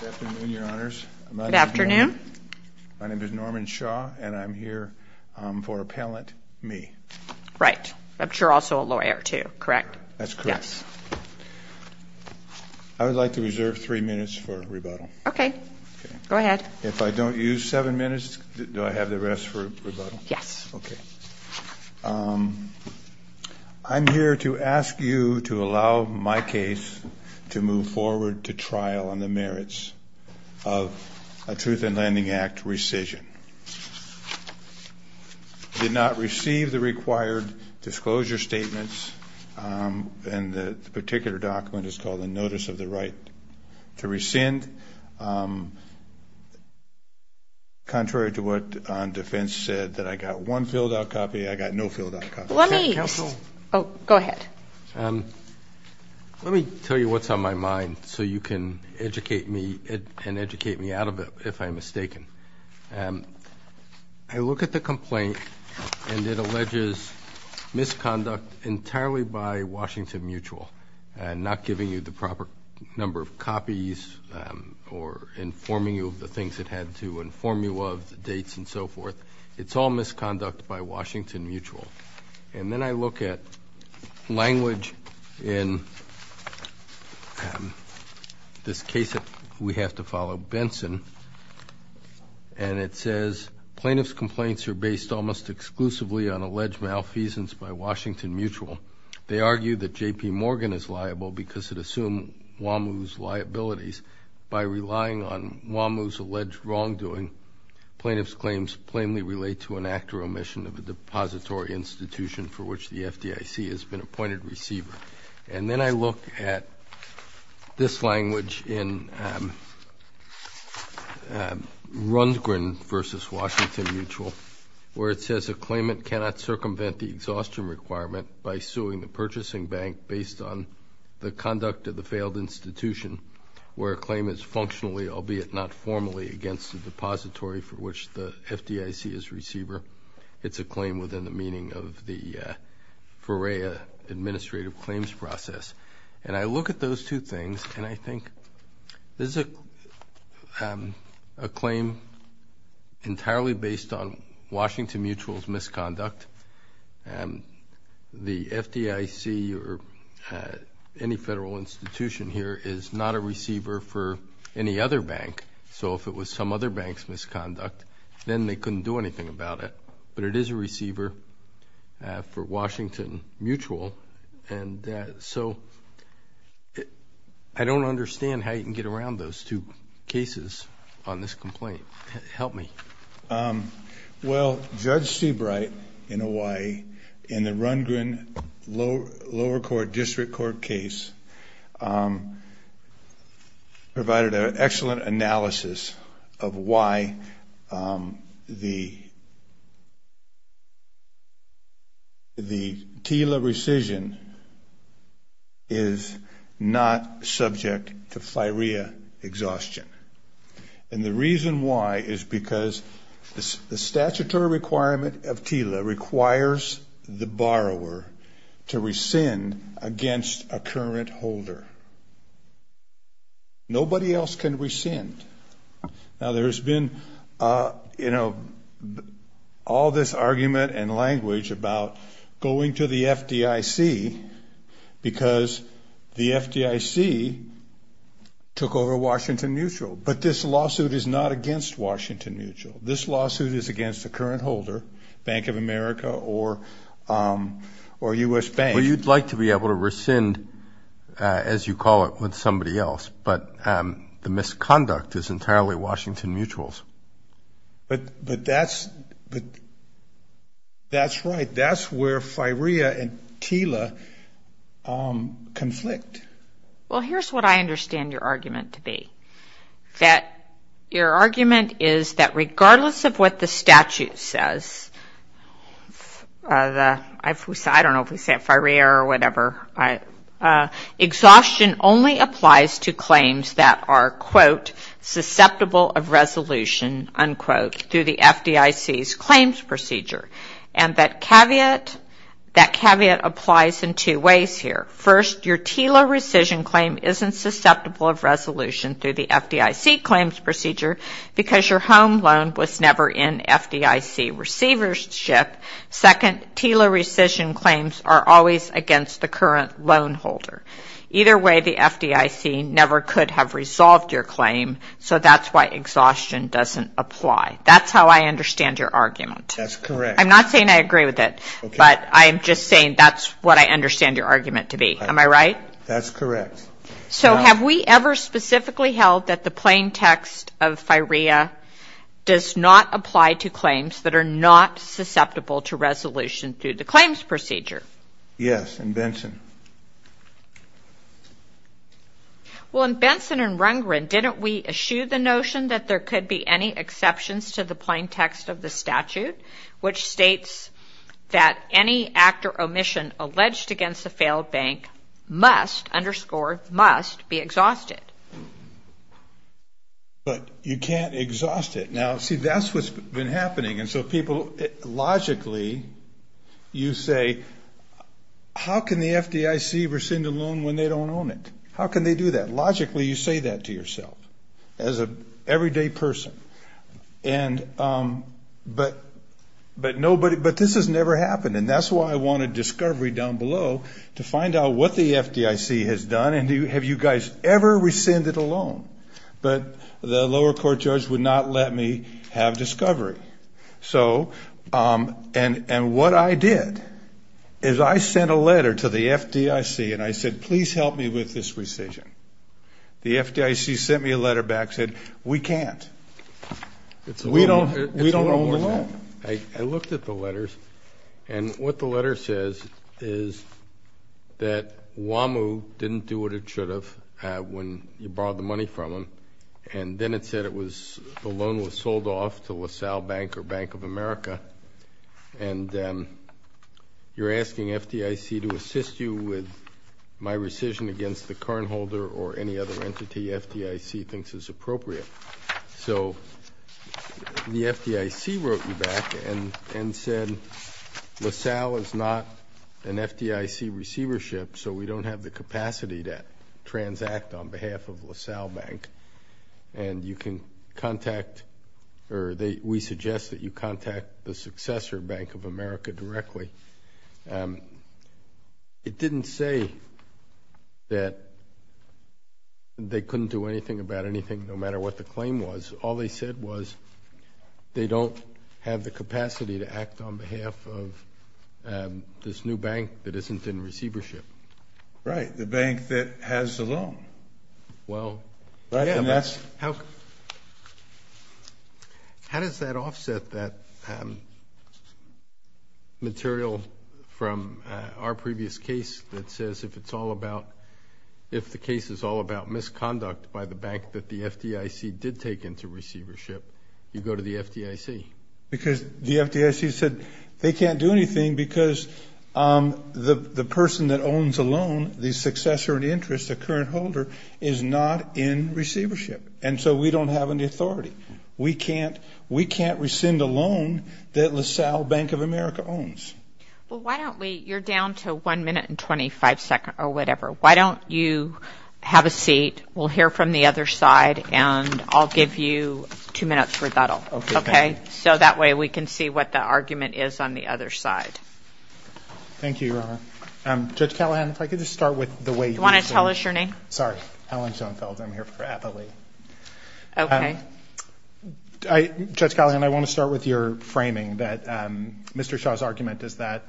Good afternoon, your honors. My name is Norman Shaw, and I'm here for appellant me. Right, but you're also a lawyer too, correct? That's correct. I would like to reserve three minutes for rebuttal. Okay, go ahead. If I don't use seven minutes, do I have the rest for rebuttal? Yes. Okay. I'm here to ask you to allow my case to move forward to trial on the merits of a Truth in Landing Act rescission. I did not receive the required disclosure statements, and the particular document is called a notice of the right to rescind. Contrary to what defense said, that I got one filled out copy, I got no filled out copy. Let me tell you what's on my mind so you can educate me and educate me out of it if I'm mistaken. I look at the complaint and it alleges misconduct entirely by Washington Mutual, not giving you the proper number of copies or informing you of the things it had to inform you of, the dates and so forth. But it's all misconduct by Washington Mutual. And then I look at language in this case that we have to follow, Benson, and it says plaintiff's complaints are based almost exclusively on alleged malfeasance by Washington Mutual. They argue that J.P. Morgan is liable because it assumed Wamuu's liabilities. By relying on Wamuu's alleged wrongdoing, plaintiff's claims plainly relate to an act or omission of a depository institution for which the FDIC has been appointed receiver. And then I look at this language in Rundgren v. Washington Mutual, where it says a claimant cannot circumvent the exhaustion requirement by suing the purchasing bank based on the conduct of the failed institution, where a claim is functionally, albeit not formally, against the depository for which the FDIC is receiver. It's a claim within the meaning of the FOREA administrative claims process. And I look at those two things and I think this is a claim entirely based on Washington Mutual's misconduct. The FDIC or any federal institution here is not a receiver for any other bank. So if it was some other bank's misconduct, then they couldn't do anything about it. But it is a receiver for Washington Mutual. And so I don't understand how you can get around those two cases on this complaint. Help me. Well, Judge Seabright in Hawaii, in the Rundgren lower court district court case, provided an excellent analysis of why the TILA rescission is not subject to FIREA exhaustion. And the reason why is because the statutory requirement of TILA requires the borrower to rescind against a current holder. Nobody else can rescind. Now, there's been, you know, all this argument and language about going to the FDIC because the FDIC took over Washington Mutual. But this lawsuit is not against Washington Mutual. This lawsuit is against a current holder, Bank of America or U.S. Bank. Well, you'd like to be able to rescind, as you call it, with somebody else. But the misconduct is entirely Washington Mutual's. But that's right. That's where FIREA and TILA conflict. Well, here's what I understand your argument to be. That your argument is that regardless of what the statute says, I don't know if we say FIREA or whatever, exhaustion only applies to claims that are, quote, susceptible of resolution, unquote, through the FDIC's claims procedure. And that caveat applies in two ways here. First, your TILA rescission claim isn't susceptible of resolution through the FDIC claims procedure because your home loan was never in FDIC receivership. Second, TILA rescission claims are always against the current loan holder. Either way, the FDIC never could have resolved your claim. So that's why exhaustion doesn't apply. That's how I understand your argument. I'm not saying I agree with it. But I'm just saying that's what I understand your argument to be. Am I right? That's correct. So have we ever specifically held that the plain text of FIREA does not apply to claims that are not susceptible to resolution through the claims procedure? Yes, in Benson. Well, in Benson and Rundgren, didn't we eschew the notion that there could be any exceptions to the plain text of the statute, which states that any act or omission alleged against a failed bank must, underscore, must be exhausted? But you can't exhaust it. Now, see, that's what's been happening. And so people, logically, you say, how can the FDIC rescind a loan when they don't own it? How can they do that? Logically, you say that to yourself as an everyday person. But this has never happened. And that's why I wanted discovery down below to find out what the FDIC has done. And have you guys ever rescinded a loan? But the lower court judge would not let me have discovery. And what I did is I sent a letter to the FDIC, and I said, please help me with this rescission. The FDIC sent me a letter back, said, we can't. We don't own the loan. I looked at the letters, and what the letter says is that WAMU didn't do what it should have when you borrowed the money from them. And then it said the loan was sold off to LaSalle Bank or Bank of America, and you're asking FDIC to assist you with my rescission against the cardholder or any other entity FDIC thinks is appropriate. So the FDIC wrote me back and said, LaSalle is not an FDIC receivership, so we don't have the capacity to transact on behalf of LaSalle Bank. And you can contact, or we suggest that you contact the successor, Bank of America, directly. It didn't say that they couldn't do anything about anything, no matter what the claim was. All they said was they don't have the capacity to act on behalf of this new bank that isn't in receivership. Right, the bank that has the loan. Well, how does that offset that material from our previous case that says if it's all about, if the case is all about misconduct by the bank that the FDIC did take into receivership, you go to the FDIC? Because the FDIC said they can't do anything because the person that owns a loan, the successor in interest, the current holder, is not in receivership. And so we don't have any authority. We can't rescind a loan that LaSalle Bank of America owns. Well, why don't we, you're down to one minute and 25 seconds or whatever. Why don't you have a seat, we'll hear from the other side, and I'll give you two minutes rebuttal. Okay, thank you. Okay, so that way we can see what the argument is on the other side. Thank you, Your Honor. Thank you. Judge Callahan, if I could just start with the way you mentioned. Do you want to tell us your name? Sorry, Alan Schoenfeld. I'm here for Eppley. Okay. Judge Callahan, I want to start with your framing that Mr. Shaw's argument is that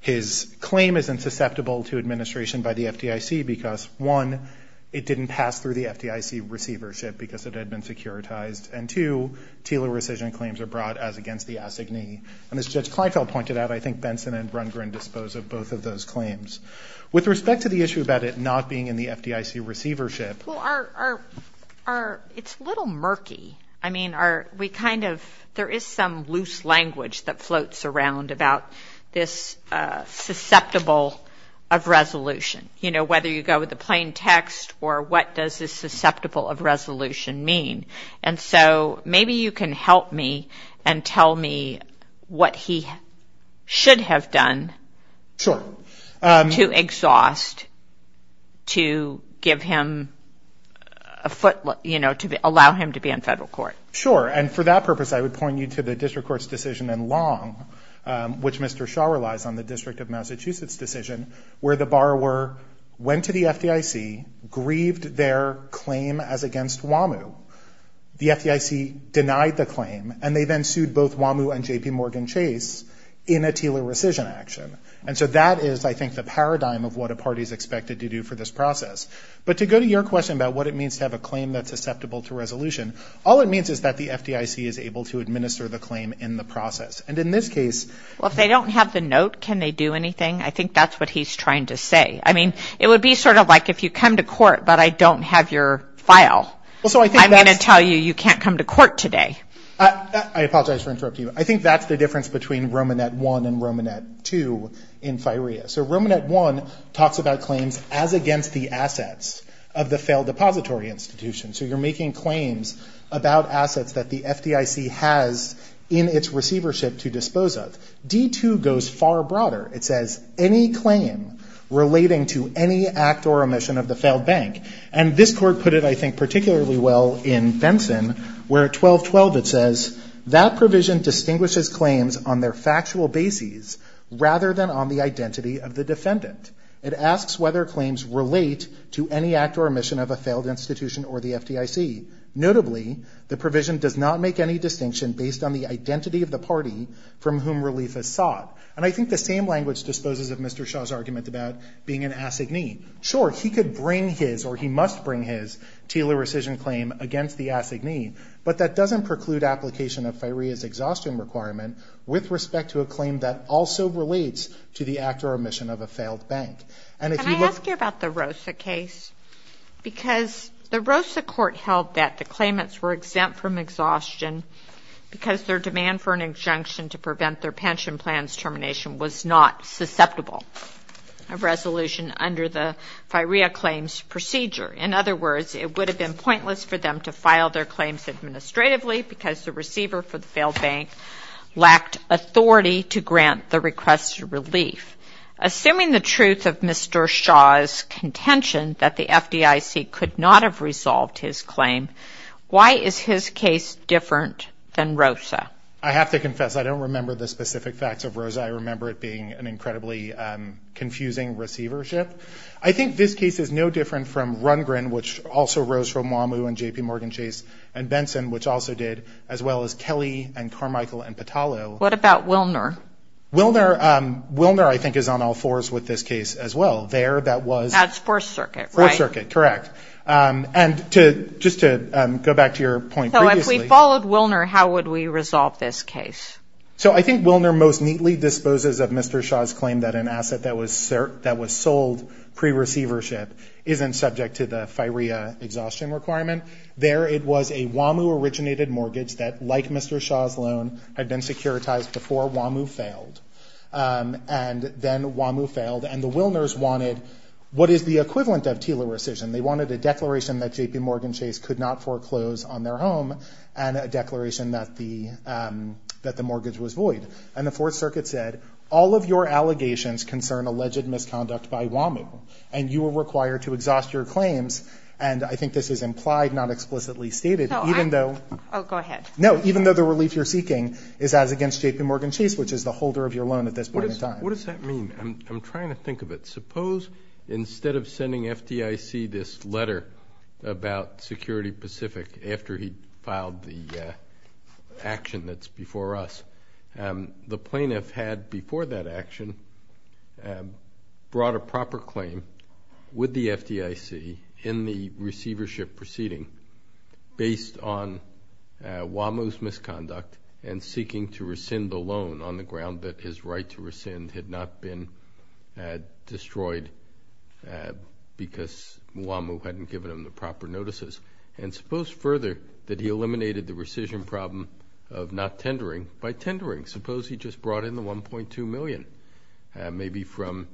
his claim is insusceptible to administration by the FDIC because, one, it didn't pass through the FDIC receivership because it had been securitized, and, two, Taylor rescission claims are brought as against the assignee. And as Judge Kleinfeld pointed out, I think Benson and Rundgren dispose of both of those claims. With respect to the issue about it not being in the FDIC receivership. Well, it's a little murky. I mean, we kind of, there is some loose language that floats around about this susceptible of resolution, you know, whether you go with the plain text or what does this susceptible of resolution mean. And so maybe you can help me and tell me what he should have done to exhaust, to give him a foot, you know, to allow him to be on federal court. Sure. And for that purpose, I would point you to the district court's decision in Long, which Mr. Shaw relies on, the District of Massachusetts decision, where the borrower went to the FDIC, grieved their claim as against WAMU. The FDIC denied the claim, and they then sued both WAMU and JPMorgan Chase in a Taylor rescission action. And so that is, I think, the paradigm of what a party is expected to do for this process. But to go to your question about what it means to have a claim that's susceptible to resolution, all it means is that the FDIC is able to administer the claim in the process. And in this case. Well, if they don't have the note, can they do anything? I think that's what he's trying to say. I mean, it would be sort of like if you come to court, but I don't have your file. I'm going to tell you you can't come to court today. I apologize for interrupting you. I think that's the difference between Romanet 1 and Romanet 2 in FIREA. So Romanet 1 talks about claims as against the assets of the failed depository institution. So you're making claims about assets that the FDIC has in its receivership to dispose of. D2 goes far broader. It says any claim relating to any act or omission of the failed bank. And this court put it, I think, particularly well in Benson, where at 1212 it says, that provision distinguishes claims on their factual bases rather than on the identity of the defendant. It asks whether claims relate to any act or omission of a failed institution or the FDIC. Notably, the provision does not make any distinction based on the identity of the party from whom relief is sought. And I think the same language disposes of Mr. Shaw's argument about being an assignee. Sure, he could bring his, or he must bring his, Taylor rescission claim against the assignee, but that doesn't preclude application of FIREA's exhaustion requirement with respect to a claim that also relates to the act or omission of a failed bank. And if you look- Can I ask you about the ROSA case? Because the ROSA court held that the claimants were exempt from exhaustion because their demand for an injunction to prevent their pension plan's termination was not susceptible of resolution under the FIREA claims procedure. In other words, it would have been pointless for them to file their claims administratively because the receiver for the failed bank lacked authority to grant the request of relief. Assuming the truth of Mr. Shaw's contention that the FDIC could not have resolved his claim, why is his case different than ROSA? I have to confess, I don't remember the specific facts of ROSA. I remember it being an incredibly confusing receivership. I think this case is no different from Rungrin, which also rose from MWAMU and JPMorgan Chase, and Benson, which also did, as well as Kelly and Carmichael and Patalo. What about Wilner? Wilner, I think, is on all fours with this case as well. There, that was- That's Fourth Circuit, right? Fourth Circuit, correct. And just to go back to your point previously- So if we followed Wilner, how would we resolve this case? So I think Wilner most neatly disposes of Mr. Shaw's claim that an asset that was sold pre-receivership isn't subject to the FIREA exhaustion requirement. There, it was a MWAMU-originated mortgage that, like Mr. Shaw's loan, had been securitized before MWAMU failed. And then MWAMU failed, and the Wilners wanted what is the equivalent of TILA rescission. They wanted a declaration that JPMorgan Chase could not foreclose on their home and a declaration that the mortgage was void. And the Fourth Circuit said, all of your allegations concern alleged misconduct by MWAMU, and you are required to exhaust your claims. And I think this is implied, not explicitly stated, even though- No, I'm- Oh, go ahead. No, even though the relief you're seeking is as against JPMorgan Chase, which is the holder of your loan at this point in time. What does that mean? I'm trying to think of it. Suppose instead of sending FDIC this letter about Security Pacific after he filed the action that's before us, the plaintiff had before that action brought a proper claim with the FDIC in the receivership proceeding based on MWAMU's misconduct and seeking to rescind the loan on the ground that his right to rescind had not been destroyed because MWAMU hadn't given him the proper notices. And suppose further that he eliminated the rescission problem of not tendering by tendering. Suppose he just brought in the $1.2 million, maybe from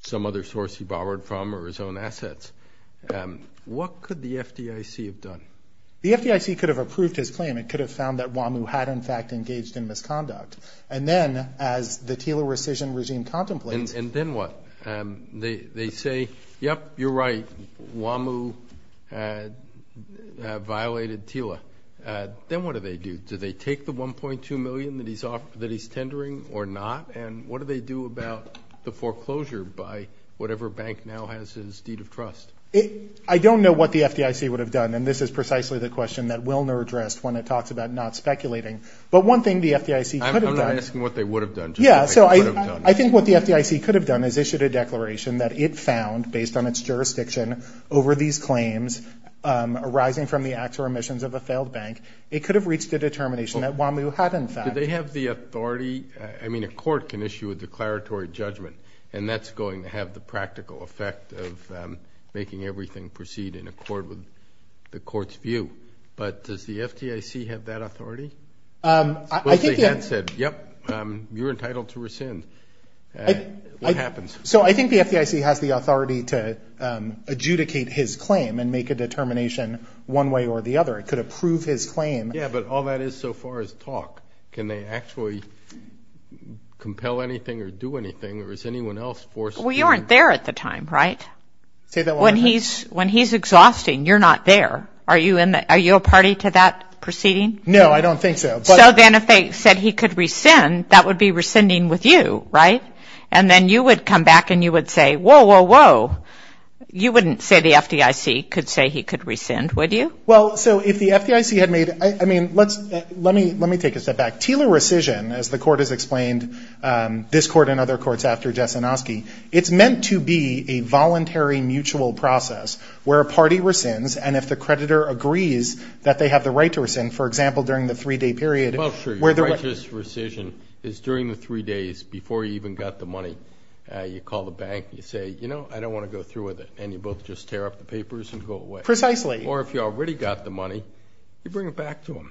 some other source he borrowed from or his own assets. What could the FDIC have done? The FDIC could have approved his claim. It could have found that MWAMU had in fact engaged in misconduct. And then as the TILA rescission regime contemplates. And then what? They say, yep, you're right, MWAMU violated TILA. Then what do they do? Do they take the $1.2 million that he's tendering or not? And what do they do about the foreclosure by whatever bank now has his deed of trust? I don't know what the FDIC would have done, and this is precisely the question that Wilner addressed when it talks about not speculating. But one thing the FDIC could have done. I'm not asking what they would have done. Yeah, so I think what the FDIC could have done is issued a declaration that it found, based on its jurisdiction over these claims arising from the acts or omissions of a failed bank. It could have reached a determination that MWAMU had in fact. Did they have the authority? I mean a court can issue a declaratory judgment, and that's going to have the practical effect of making everything proceed in accord with the court's view. But does the FDIC have that authority? Suppose they had said, yep, you're entitled to rescind. What happens? So I think the FDIC has the authority to adjudicate his claim and make a determination one way or the other. It could approve his claim. Yeah, but all that is so far is talk. Can they actually compel anything or do anything, or is anyone else forced to? Well, you aren't there at the time, right? Say that one more time. When he's exhausting, you're not there. Are you a party to that proceeding? No, I don't think so. So then if they said he could rescind, that would be rescinding with you, right? And then you would come back and you would say, whoa, whoa, whoa. You wouldn't say the FDIC could say he could rescind, would you? Well, so if the FDIC had made ñ I mean, let me take a step back. Tealer rescission, as the Court has explained, this Court and other courts after Jessanoski, it's meant to be a voluntary mutual process where a party rescinds and if the creditor agrees that they have the right to rescind, for example, during the three-day period. Well, sure. Righteous rescission is during the three days before you even got the money. You call the bank. You say, you know, I don't want to go through with it. And you both just tear up the papers and go away. Precisely. Or if you already got the money, you bring it back to them.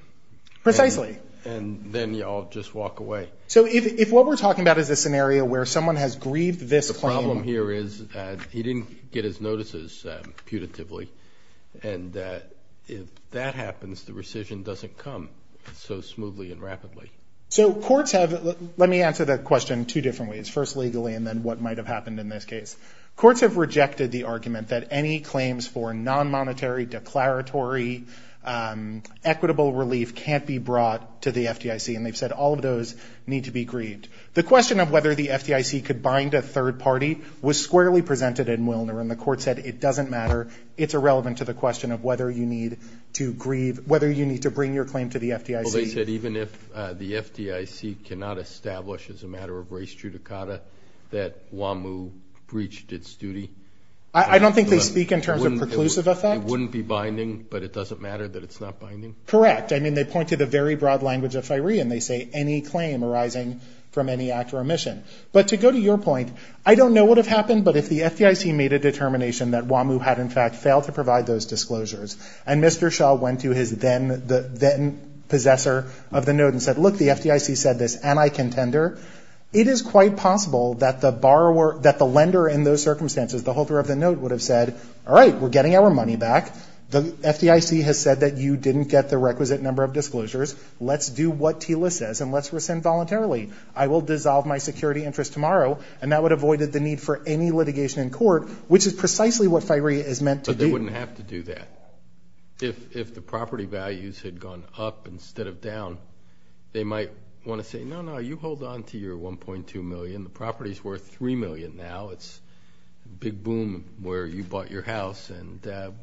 Precisely. And then you all just walk away. So if what we're talking about is a scenario where someone has grieved this claim. The problem here is he didn't get his notices putatively. And if that happens, the rescission doesn't come so smoothly and rapidly. So courts have ñ let me answer that question two different ways, first legally and then what might have happened in this case. Courts have rejected the argument that any claims for non-monetary, declaratory, equitable relief can't be brought to the FDIC. And they've said all of those need to be grieved. The question of whether the FDIC could bind a third party was squarely presented in Willner. And the court said it doesn't matter. It's irrelevant to the question of whether you need to grieve, whether you need to bring your claim to the FDIC. Well, they said even if the FDIC cannot establish as a matter of race judicata that WAMU breached its duty. I don't think they speak in terms of preclusive effect. It wouldn't be binding, but it doesn't matter that it's not binding? Correct. I mean, they point to the very broad language of FIREE and they say any claim arising from any act or omission. But to go to your point, I don't know what would have happened, but if the FDIC made a determination that WAMU had in fact failed to provide those disclosures and Mr. Shah went to his then-possessor of the note and said, look, the FDIC said this and I contender, it is quite possible that the lender in those circumstances, the holder of the note would have said, all right, we're getting our money back. The FDIC has said that you didn't get the requisite number of disclosures. Let's do what TILA says and let's rescind voluntarily. I will dissolve my security interest tomorrow. And that would have avoided the need for any litigation in court, which is precisely what FIREE is meant to do. But they wouldn't have to do that. If the property values had gone up instead of down, they might want to say, no, no, you hold on to your $1.2 million. The property is worth $3 million now. It's a big boom where you bought your house and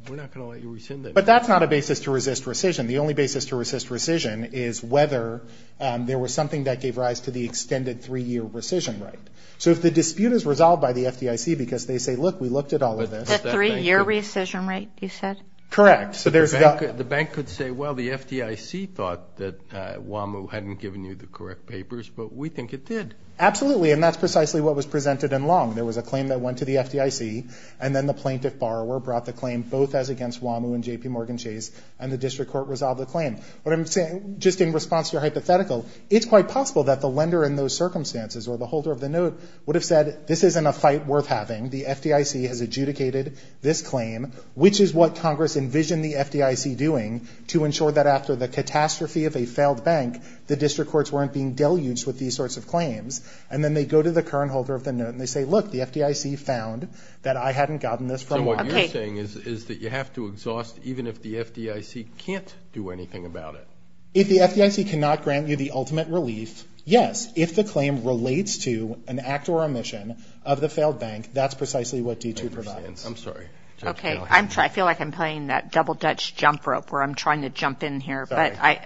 we're not going to let you rescind it. But that's not a basis to resist rescission. The only basis to resist rescission is whether there was something that gave rise to the extended three-year rescission rate. So if the dispute is resolved by the FDIC because they say, look, we looked at all of this. It's a three-year rescission rate, you said? Correct. The bank could say, well, the FDIC thought that WAMU hadn't given you the correct papers, but we think it did. Absolutely, and that's precisely what was presented in Long. There was a claim that went to the FDIC, and then the plaintiff borrower brought the claim both as against WAMU and JPMorgan Chase, and the district court resolved the claim. What I'm saying, just in response to your hypothetical, it's quite possible that the lender in those circumstances or the holder of the note would have said, this isn't a fight worth having. The FDIC has adjudicated this claim, which is what Congress envisioned the FDIC doing to ensure that after the catastrophe of a failed bank, the district courts weren't being deluged with these sorts of claims. And then they go to the current holder of the note and they say, look, the FDIC found that I hadn't gotten this from WAMU. So what you're saying is that you have to exhaust even if the FDIC can't do anything about it. If the FDIC cannot grant you the ultimate relief, yes. But if the claim relates to an act or omission of the failed bank, that's precisely what D2 provides. I'm sorry. Okay. I feel like I'm playing that double-dutch jump rope where I'm trying to jump in here. Sorry.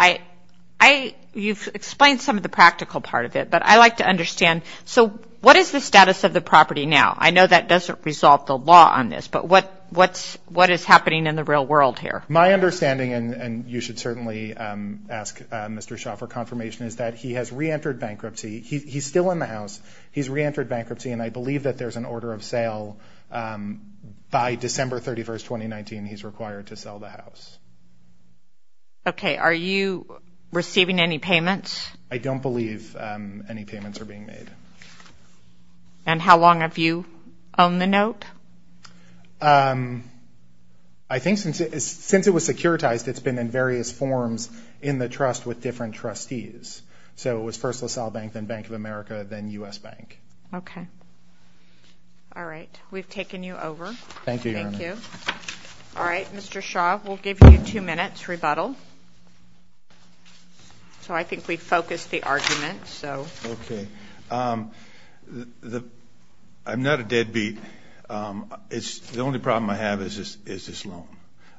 Okay. You've explained some of the practical part of it, but I'd like to understand, so what is the status of the property now? I know that doesn't resolve the law on this, but what is happening in the real world here? My understanding, and you should certainly ask Mr. Shaw for confirmation, is that he has reentered bankruptcy. He's still in the house. He's reentered bankruptcy, and I believe that there's an order of sale. By December 31, 2019, he's required to sell the house. Okay. Are you receiving any payments? I don't believe any payments are being made. And how long have you owned the note? I think since it was securitized, it's been in various forms in the trust with different trustees. So it was first LaSalle Bank, then Bank of America, then U.S. Bank. Okay. All right. We've taken you over. Thank you, Your Honor. Thank you. All right. Mr. Shaw, we'll give you two minutes rebuttal. So I think we've focused the argument, so. Okay. I'm not a deadbeat. The only problem I have is this loan.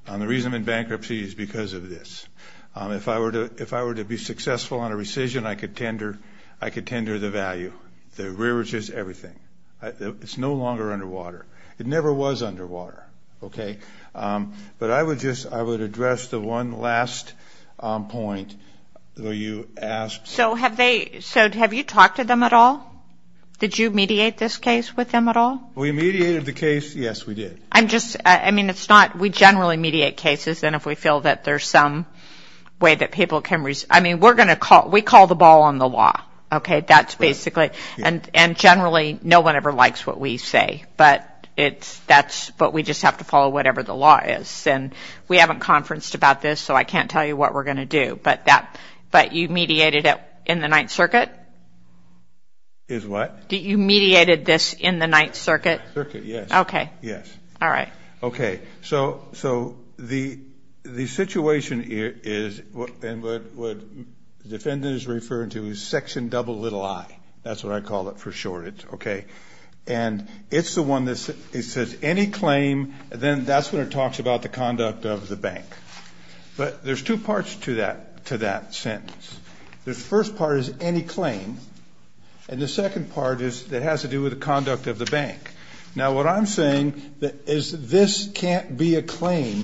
The reason I'm in bankruptcy is because of this. If I were to be successful on a rescission, I could tender the value. The rear is just everything. It's no longer underwater. It never was underwater, okay? But I would address the one last point where you asked. So have you talked to them at all? Did you mediate this case with them at all? We mediated the case. Yes, we did. I'm just – I mean, it's not – we generally mediate cases. And if we feel that there's some way that people can – I mean, we're going to – we call the ball on the law. Okay? That's basically – and generally, no one ever likes what we say. But it's – that's – but we just have to follow whatever the law is. And we haven't conferenced about this, so I can't tell you what we're going to do. But that – but you mediated it in the Ninth Circuit? Is what? You mediated this in the Ninth Circuit? The Ninth Circuit, yes. Okay. Yes. All right. Okay. So the situation is – and what the defendant is referring to is Section double little I. That's what I call it for short. Okay? And it's the one that says any claim, then that's when it talks about the conduct of the bank. But there's two parts to that sentence. The first part is any claim. And the second part is it has to do with the conduct of the bank. Now, what I'm saying is this can't be a claim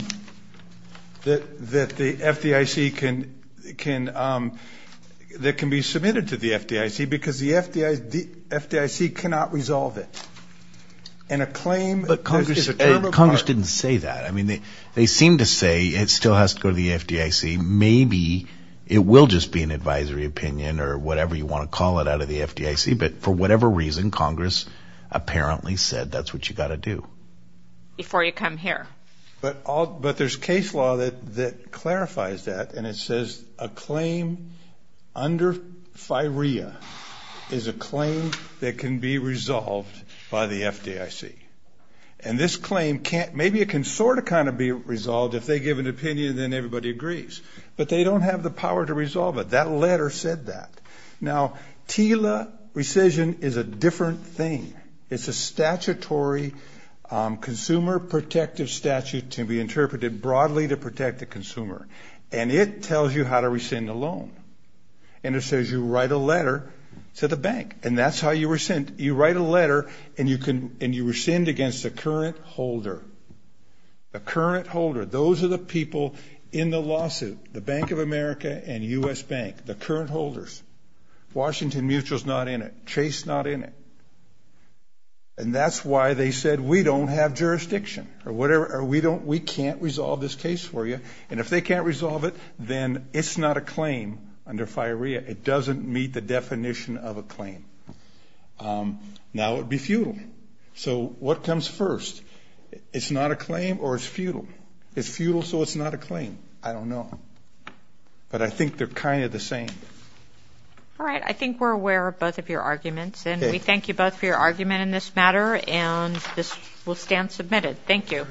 that the FDIC can – that can be submitted to the FDIC because the FDIC cannot resolve it. And a claim – But Congress didn't say that. I mean, they seem to say it still has to go to the FDIC. Maybe it will just be an advisory opinion or whatever you want to call it out of the FDIC. But for whatever reason, Congress apparently said that's what you've got to do. Before you come here. But there's case law that clarifies that. And it says a claim under FIREA is a claim that can be resolved by the FDIC. And this claim can't – maybe it can sort of kind of be resolved if they give an opinion and then everybody agrees. But they don't have the power to resolve it. That letter said that. Now, TILA rescission is a different thing. It's a statutory consumer protective statute to be interpreted broadly to protect the consumer. And it tells you how to rescind a loan. And it says you write a letter to the bank. And that's how you rescind. You write a letter and you rescind against the current holder. The current holder. Those are the people in the lawsuit. The Bank of America and U.S. Bank. The current holders. Washington Mutual is not in it. Chase is not in it. And that's why they said we don't have jurisdiction. Or we can't resolve this case for you. And if they can't resolve it, then it's not a claim under FIREA. It doesn't meet the definition of a claim. Now it would be futile. So what comes first? It's not a claim or it's futile. It's futile, so it's not a claim. I don't know. But I think they're kind of the same. All right. I think we're aware of both of your arguments. And we thank you both for your argument in this matter. And this will stand submitted. Thank you.